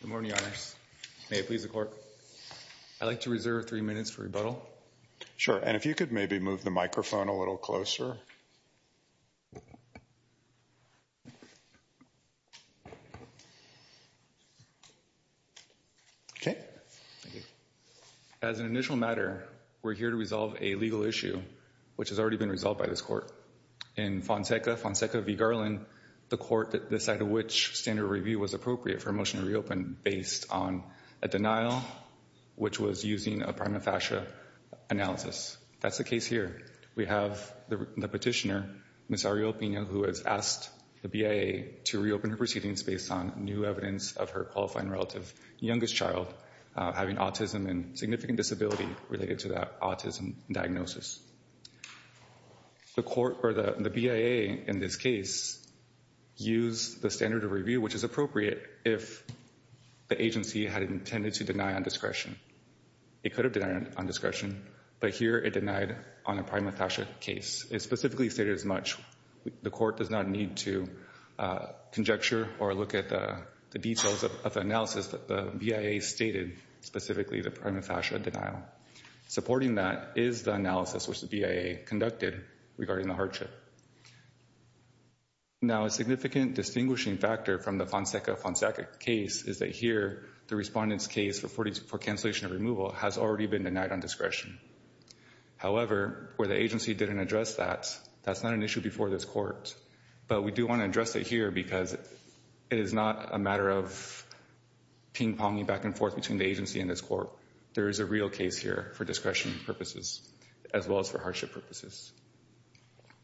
Good morning, Your Honors. May it please the Court. I'd like to reserve three minutes for rebuttal. Sure, and if you could maybe move the microphone a little closer. Okay. As an initial matter, we're here to resolve a legal issue, which has already been resolved by this Court. In Fonseca v. Garland, the Court decided which standard review was appropriate for a motion to reopen based on a denial, which was using a prima facie analysis. That's the case here. We have the petitioner, Ms. Arreola Pina, who has asked the BIA to reopen her proceedings based on new evidence of her qualifying relative's youngest child having autism and significant disability related to that autism diagnosis. The BIA in this case used the standard of review, which is appropriate if the agency had intended to deny on discretion. It could have denied on discretion, but here it denied on a prima facie case. It specifically stated as much. The Court does not need to conjecture or look at the details of the analysis that the BIA stated, specifically the prima facie denial. Supporting that is the analysis which the BIA conducted regarding the hardship. Now a significant distinguishing factor from the Fonseca v. Fonseca case is that here the respondent's case for cancellation of removal has already been denied on discretion. However, where the agency didn't address that, that's not an issue before this Court. But we do want to address it here because it is not a matter of ping-ponging back and forth between the agency and this Court. There is a real case here for discretion purposes as well as for hardship purposes.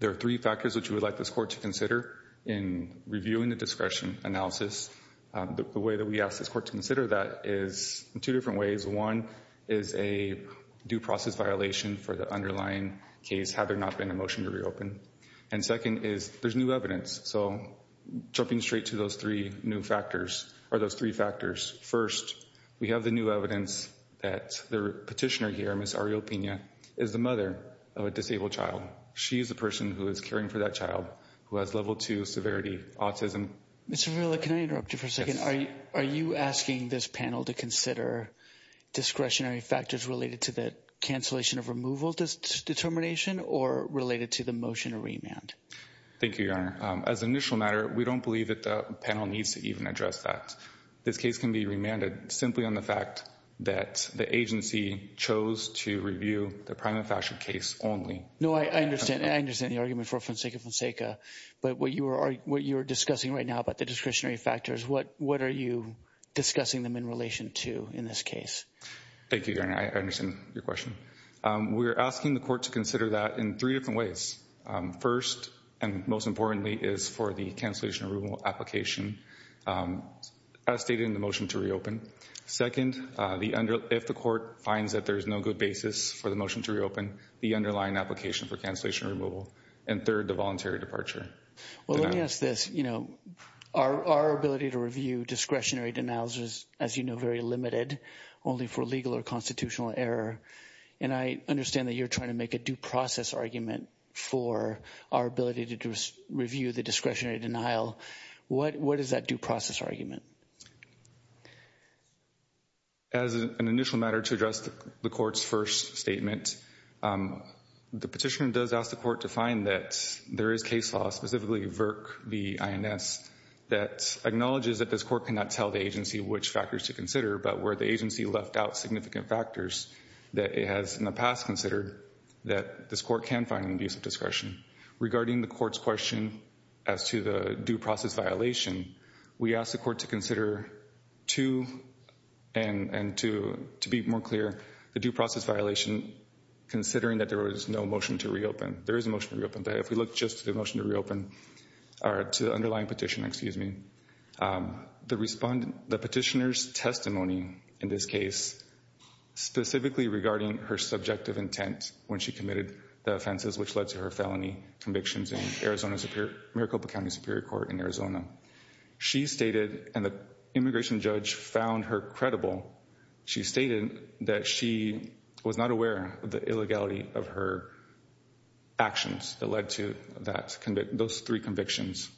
There are three factors which we would like this Court to consider in reviewing the discretion analysis. The way that we ask this Court to consider that is in two different ways. One is a due process violation for the underlying case had there not been a motion to reopen. And second is there's new evidence. Jumping straight to those three factors. First, we have the new evidence that the petitioner here, Ms. Ariel Pena, is the mother of a disabled child. She is the person who is caring for that child who has level 2 severity autism. Mr. Verilla, can I interrupt you for a second? Yes. Are you asking this panel to consider discretionary factors related to the cancellation of removal determination or related to the motion to remand? Thank you, Your Honor. As an initial matter, we don't believe that the panel needs to even address that. This case can be remanded simply on the fact that the agency chose to review the prima facie case only. No, I understand. I understand the argument for Fonseca Fonseca. But what you are discussing right now about the discretionary factors, what are you discussing them in relation to in this case? Thank you, Your Honor. I understand your question. We are asking the Court to consider that in three different ways. First, and most importantly, is for the cancellation removal application as stated in the motion to reopen. Second, if the Court finds that there is no good basis for the motion to reopen, the underlying application for cancellation removal. And third, the voluntary departure. Well, let me ask this. Our ability to review discretionary denials is, as you know, very limited, only for legal or constitutional error. And I understand that you're trying to make a due process argument for our ability to review the discretionary denial. What is that due process argument? As an initial matter, to address the Court's first statement, the petitioner does ask the Court to find that there is case law, specifically VRC v. INS, that acknowledges that this Court cannot tell the agency which factors to consider, but where the agency left out significant factors that it has in the past considered that this Court can find an abuse of discretion. Regarding the Court's question as to the due process violation, we ask the Court to consider two, and to be more clear, the due process violation, considering that there was no motion to reopen. There is a motion to reopen, but if we look just at the motion to reopen, or to the underlying petition, excuse me, the petitioner's testimony in this case, specifically regarding her subjective intent when she committed the offenses which led to her felony convictions in Arizona Superior, Maricopa County Superior Court in Arizona, she stated, and the immigration judge found her credible, she stated that she was not aware of the illegality of her actions that led to those three convictions,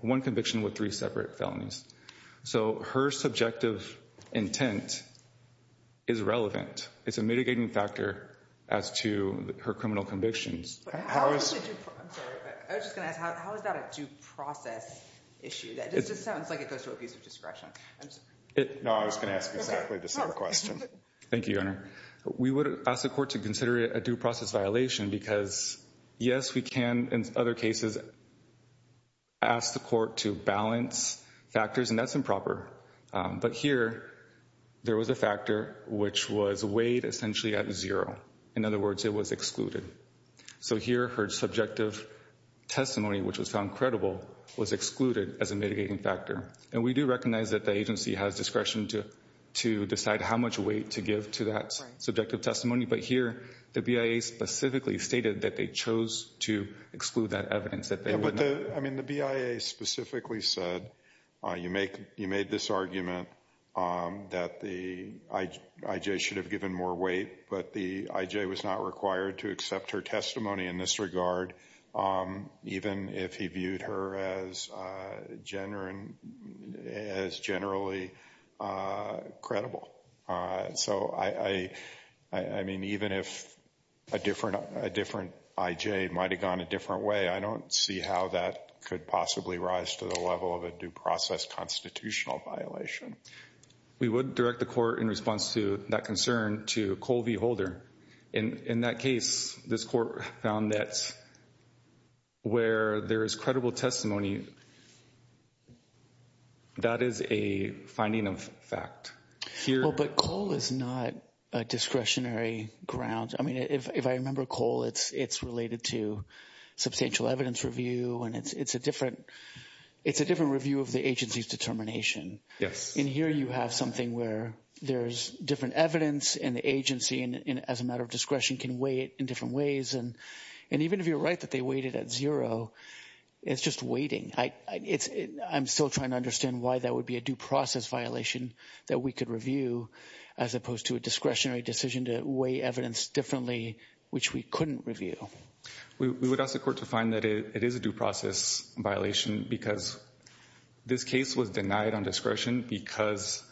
one conviction with three separate felonies. So her subjective intent is relevant. It's a mitigating factor as to her criminal convictions. I was just going to ask, how is that a due process issue? That just sounds like it goes to abuse of discretion. No, I was going to ask exactly the same question. Thank you, Your Honor. We would ask the Court to consider it a due process violation because, yes, we can, in other cases, ask the Court to balance factors, and that's improper. But here, there was a factor which was weighed essentially at zero. In other words, it was excluded. So here, her subjective testimony, which was found credible, was excluded as a mitigating factor. And we do recognize that the agency has discretion to decide how much weight to give to that subjective testimony. But here, the BIA specifically stated that they chose to exclude that evidence. I mean, the BIA specifically said, you made this argument that the IJ should have given more weight, but the IJ was not required to accept her testimony in this regard, even if he viewed her as generally credible. So, I mean, even if a different IJ might have gone a different way, I don't see how that could possibly rise to the level of a due process constitutional violation. We would direct the Court, in response to that concern, to Cole v. Holder. In that case, this Court found that where there is credible testimony, that is a finding of fact. But Cole is not a discretionary ground. I mean, if I remember Cole, it's related to substantial evidence review, and it's a different review of the agency's determination. Yes. And here you have something where there's different evidence, and the agency, as a matter of discretion, can weigh it in different ways. And even if you're right that they weighted at zero, it's just weighting. I'm still trying to understand why that would be a due process violation that we could review, as opposed to a discretionary decision to weigh evidence differently, which we couldn't review. We would ask the Court to find that it is a due process violation because this case was denied on discretion because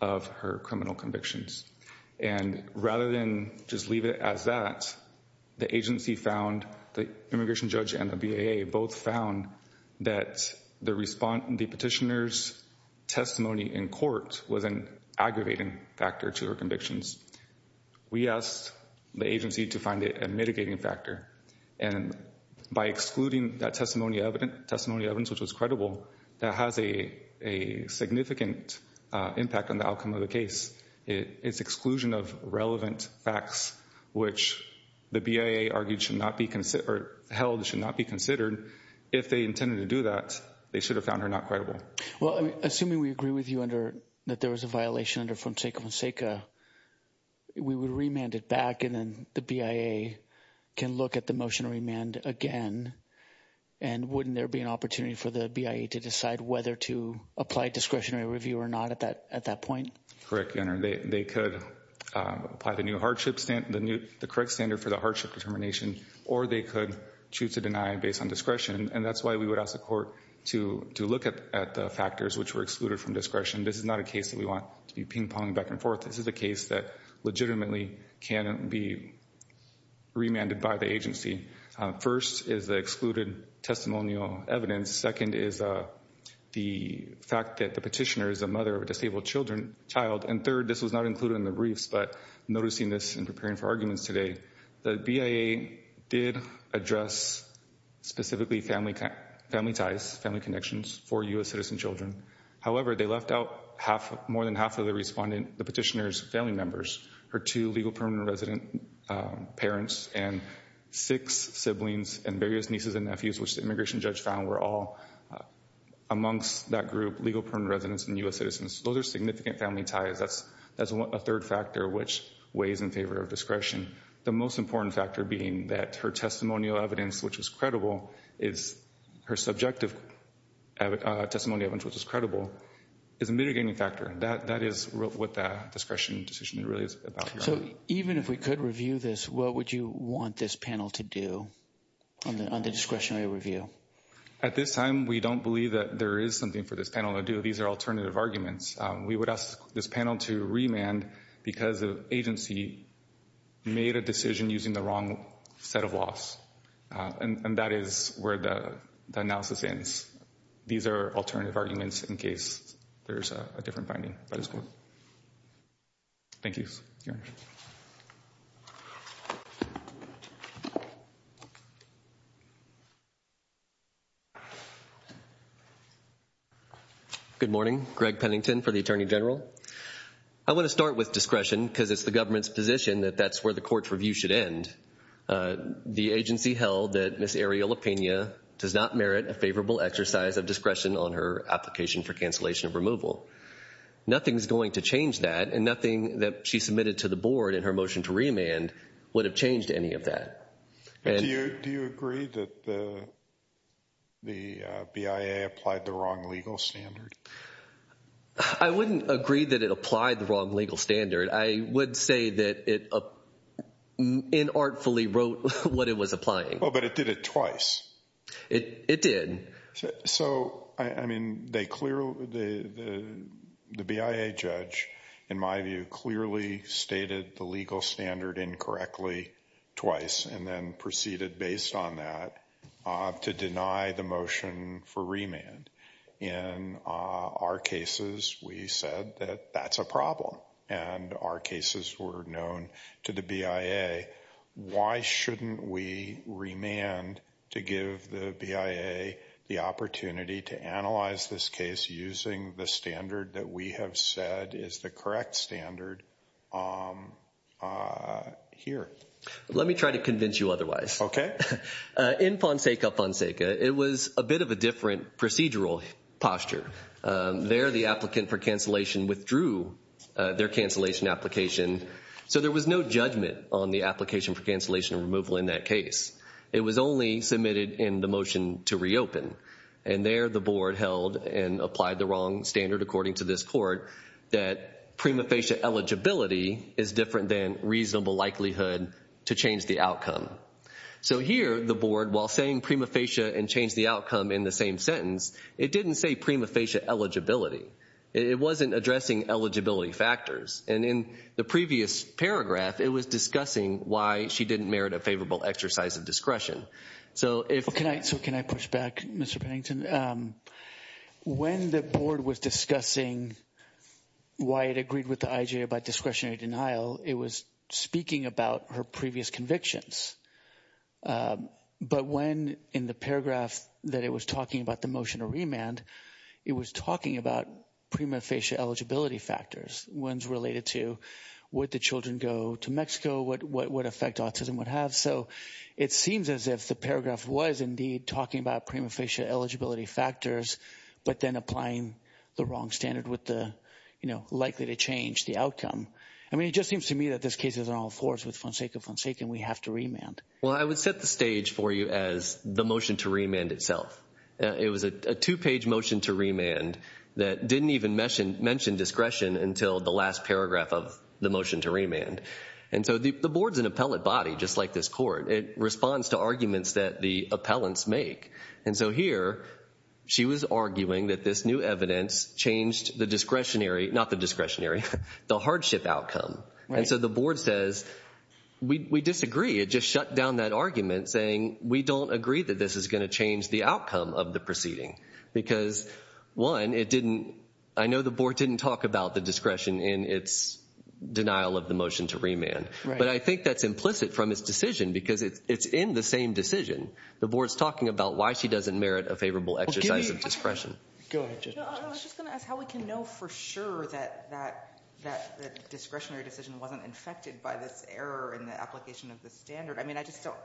of her criminal convictions. And rather than just leave it as that, the agency found, the immigration judge and the BAA, both found that the petitioner's testimony in court was an aggravating factor to her convictions. We asked the agency to find it a mitigating factor. And by excluding that testimony evidence, which was credible, that has a significant impact on the outcome of the case. It's exclusion of relevant facts, which the BAA argued should not be considered, or held should not be considered. If they intended to do that, they should have found her not credible. Well, assuming we agree with you that there was a violation under Fonseca Fonseca, we would remand it back and then the BAA can look at the motion to remand again. And wouldn't there be an opportunity for the BAA to decide whether to apply discretionary review or not at that point? Correct, Your Honor. They could apply the correct standard for the hardship determination, or they could choose to deny based on discretion. And that's why we would ask the court to look at the factors which were excluded from discretion. This is not a case that we want to be ping-ponging back and forth. This is a case that legitimately can be remanded by the agency. First is the excluded testimonial evidence. Second is the fact that the petitioner is a mother of a disabled child. And third, this was not included in the briefs, but noticing this and preparing for arguments today, the BAA did address specifically family ties, family connections for U.S. citizen children. However, they left out more than half of the respondent, the petitioner's family members, her two legal permanent resident parents and six siblings and various nieces and nephews, which the immigration judge found were all amongst that group, legal permanent residents and U.S. citizens. Those are significant family ties. That's a third factor which weighs in favor of discretion. The most important factor being that her testimonial evidence, which is credible, is her subjective testimonial evidence, which is credible, is a mitigating factor. That is what the discretion decision really is about. So even if we could review this, what would you want this panel to do on the discretionary review? At this time, we don't believe that there is something for this panel to do. These are alternative arguments. We would ask this panel to remand because the agency made a decision using the wrong set of laws, and that is where the analysis ends. These are alternative arguments in case there is a different finding. Thank you. Thank you. Good morning. Greg Pennington for the Attorney General. I want to start with discretion because it's the government's position that that's where the court's review should end. The agency held that Ms. Ariella Pena does not merit a favorable exercise of discretion on her application for cancellation of removal. Nothing is going to change that, and nothing that she submitted to the board in her motion to remand would have changed any of that. Do you agree that the BIA applied the wrong legal standard? I wouldn't agree that it applied the wrong legal standard. I would say that it inartfully wrote what it was applying. But it did it twice. It did. So, I mean, the BIA judge, in my view, clearly stated the legal standard incorrectly twice and then proceeded based on that to deny the motion for remand. In our cases, we said that that's a problem, and our cases were known to the BIA. Why shouldn't we remand to give the BIA the opportunity to analyze this case using the standard that we have said is the correct standard here? Let me try to convince you otherwise. In Fonseca Fonseca, it was a bit of a different procedural posture. There, the applicant for cancellation withdrew their cancellation application. So there was no judgment on the application for cancellation removal in that case. It was only submitted in the motion to reopen. And there, the board held and applied the wrong standard, according to this court, that prima facie eligibility is different than reasonable likelihood to change the outcome. So here, the board, while saying prima facie and change the outcome in the same sentence, it didn't say prima facie eligibility. It wasn't addressing eligibility factors. And in the previous paragraph, it was discussing why she didn't merit a favorable exercise of discretion. So can I push back, Mr. Pennington? When the board was discussing why it agreed with the IJA about discretionary denial, it was speaking about her previous convictions. But when, in the paragraph that it was talking about the motion to remand, it was talking about prima facie eligibility factors, ones related to would the children go to Mexico, what effect autism would have. So it seems as if the paragraph was, indeed, talking about prima facie eligibility factors, but then applying the wrong standard with the, you know, likely to change the outcome. I mean, it just seems to me that this case isn't all fours. With Fonseca Fonseca, we have to remand. Well, I would set the stage for you as the motion to remand itself. It was a two-page motion to remand that didn't even mention discretion until the last paragraph of the motion to remand. And so the board's an appellate body, just like this court. It responds to arguments that the appellants make. And so here she was arguing that this new evidence changed the discretionary, not the discretionary, the hardship outcome. And so the board says, we disagree. It just shut down that argument saying, we don't agree that this is going to change the outcome of the proceeding. Because, one, it didn't, I know the board didn't talk about the discretion in its denial of the motion to remand. But I think that's implicit from its decision because it's in the same decision. The board's talking about why she doesn't merit a favorable exercise of discretion. Go ahead, Judge. I was just going to ask how we can know for sure that the discretionary decision wasn't infected by this error in the application of the standard. I mean, I just don't,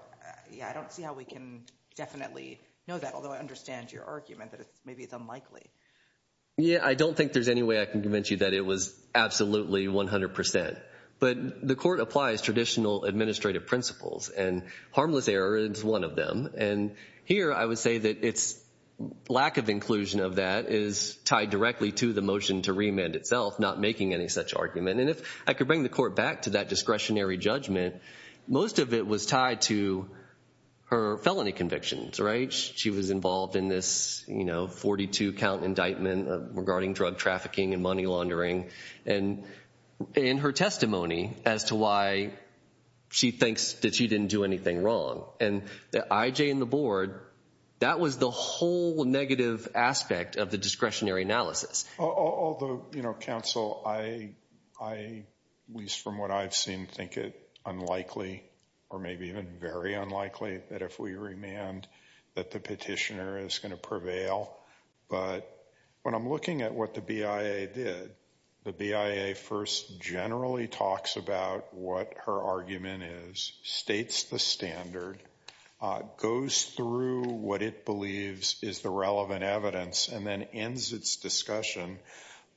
yeah, I don't see how we can definitely know that, although I understand your argument that maybe it's unlikely. Yeah, I don't think there's any way I can convince you that it was absolutely 100%. But the court applies traditional administrative principles. And harmless error is one of them. And here I would say that its lack of inclusion of that is tied directly to the motion to remand itself, not making any such argument. And if I could bring the court back to that discretionary judgment, most of it was tied to her felony convictions, right? She was involved in this, you know, 42 count indictment regarding drug trafficking and money laundering. And in her testimony as to why she thinks that she didn't do anything wrong. And the IJ and the board, that was the whole negative aspect of the discretionary analysis. Although, you know, counsel, I, at least from what I've seen, think it unlikely or maybe even very unlikely that if we remand that the petitioner is going to prevail. But when I'm looking at what the BIA did, the BIA first generally talks about what her argument is, states the standard, goes through what it believes is the relevant evidence, and then ends its discussion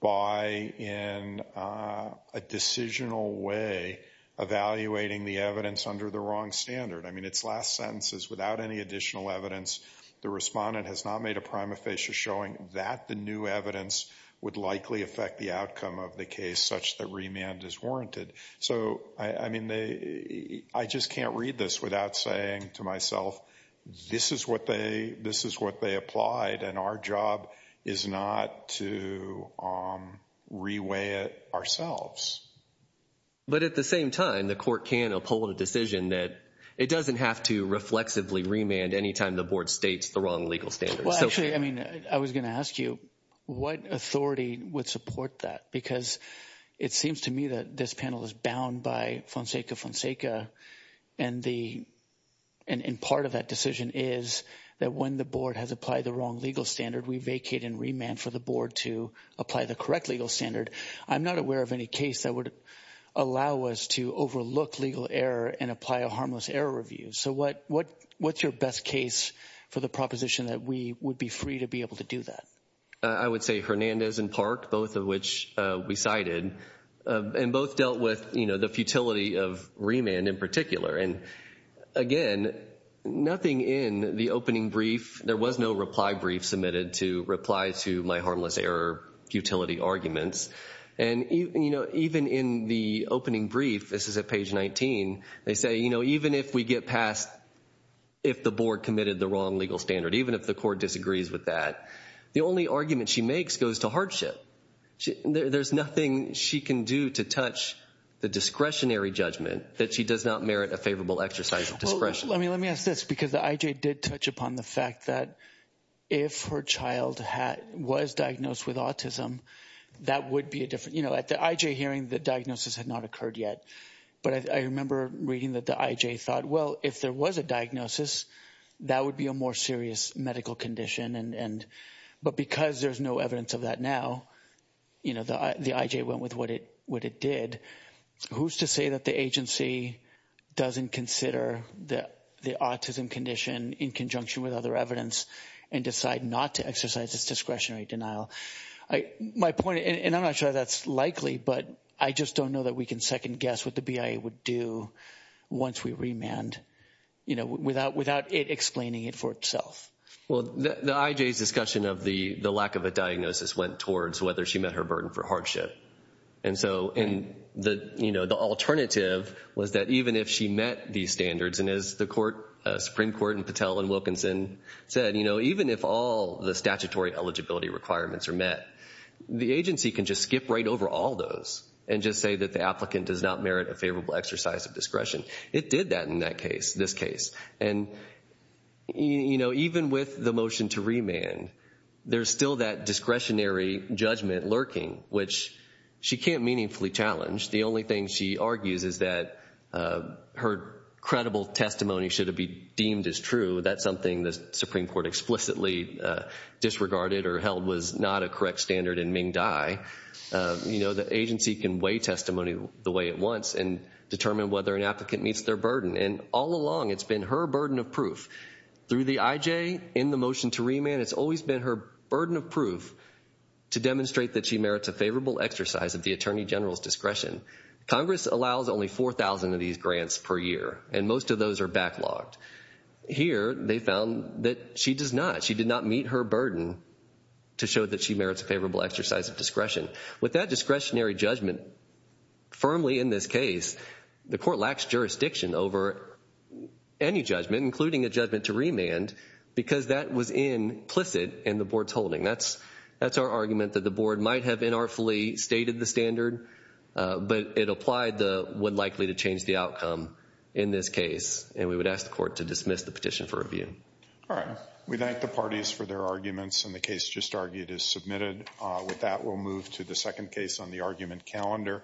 by, in a decisional way, evaluating the evidence under the wrong standard. I mean, its last sentence is, without any additional evidence, the respondent has not made a prima facie showing that the new evidence would likely affect the outcome of the case such that remand is warranted. So, I mean, I just can't read this without saying to myself, this is what they applied, and our job is not to reweigh it ourselves. But at the same time, the court can uphold a decision that it doesn't have to reflexively remand any time the board states the wrong legal standards. Well, actually, I mean, I was going to ask you, what authority would support that? Because it seems to me that this panel is bound by Fonseca Fonseca, and part of that decision is that when the board has applied the wrong legal standard, we vacate and remand for the board to apply the correct legal standard. I'm not aware of any case that would allow us to overlook legal error and apply a harmless error review. So what's your best case for the proposition that we would be free to be able to do that? I would say Hernandez and Park, both of which we cited, and both dealt with the futility of remand in particular. And, again, nothing in the opening brief, there was no reply brief submitted to reply to my harmless error futility arguments. And, you know, even in the opening brief, this is at page 19, they say, you know, even if we get past if the board committed the wrong legal standard, even if the court disagrees with that, the only argument she makes goes to hardship. There's nothing she can do to touch the discretionary judgment that she does not merit a favorable exercise of discretion. Let me ask this, because the IJ did touch upon the fact that if her child was diagnosed with autism, that would be a different, you know, at the IJ hearing, the diagnosis had not occurred yet. But I remember reading that the IJ thought, well, if there was a diagnosis, that would be a more serious medical condition. But because there's no evidence of that now, you know, the IJ went with what it did. Who's to say that the agency doesn't consider the autism condition in conjunction with other evidence and decide not to exercise its discretionary denial? My point, and I'm not sure that's likely, but I just don't know that we can second guess what the BIA would do once we remand, you know, without it explaining it for itself. Well, the IJ's discussion of the lack of a diagnosis went towards whether she met her burden for hardship. And so, and the, you know, the alternative was that even if she met these standards, and as the Supreme Court and Patel and Wilkinson said, you know, even if all the statutory eligibility requirements are met, the agency can just skip right over all those and just say that the applicant does not merit a favorable exercise of discretion. It did that in that case, this case. And, you know, even with the motion to remand, there's still that discretionary judgment lurking, which she can't meaningfully challenge. The only thing she argues is that her credible testimony should have been deemed as true. That's something the Supreme Court explicitly disregarded or held was not a correct standard in Ming Dai. You know, the agency can weigh testimony the way it wants and determine whether an applicant meets their burden. And all along, it's been her burden of proof. Through the IJ, in the motion to remand, it's always been her burden of proof to demonstrate that she merits a favorable exercise of the Attorney General's discretion. Congress allows only 4,000 of these grants per year, and most of those are backlogged. Here, they found that she does not. She did not meet her burden to show that she merits a favorable exercise of discretion. With that discretionary judgment, firmly in this case, the Court lacks jurisdiction over any judgment, including a judgment to remand, because that was implicit in the Board's holding. That's our argument that the Board might have inartfully stated the standard, but it applied the would likely to change the outcome in this case. And we would ask the Court to dismiss the petition for review. All right. We thank the parties for their arguments, and the case just argued is submitted. With that, we'll move to the second case on the argument calendar.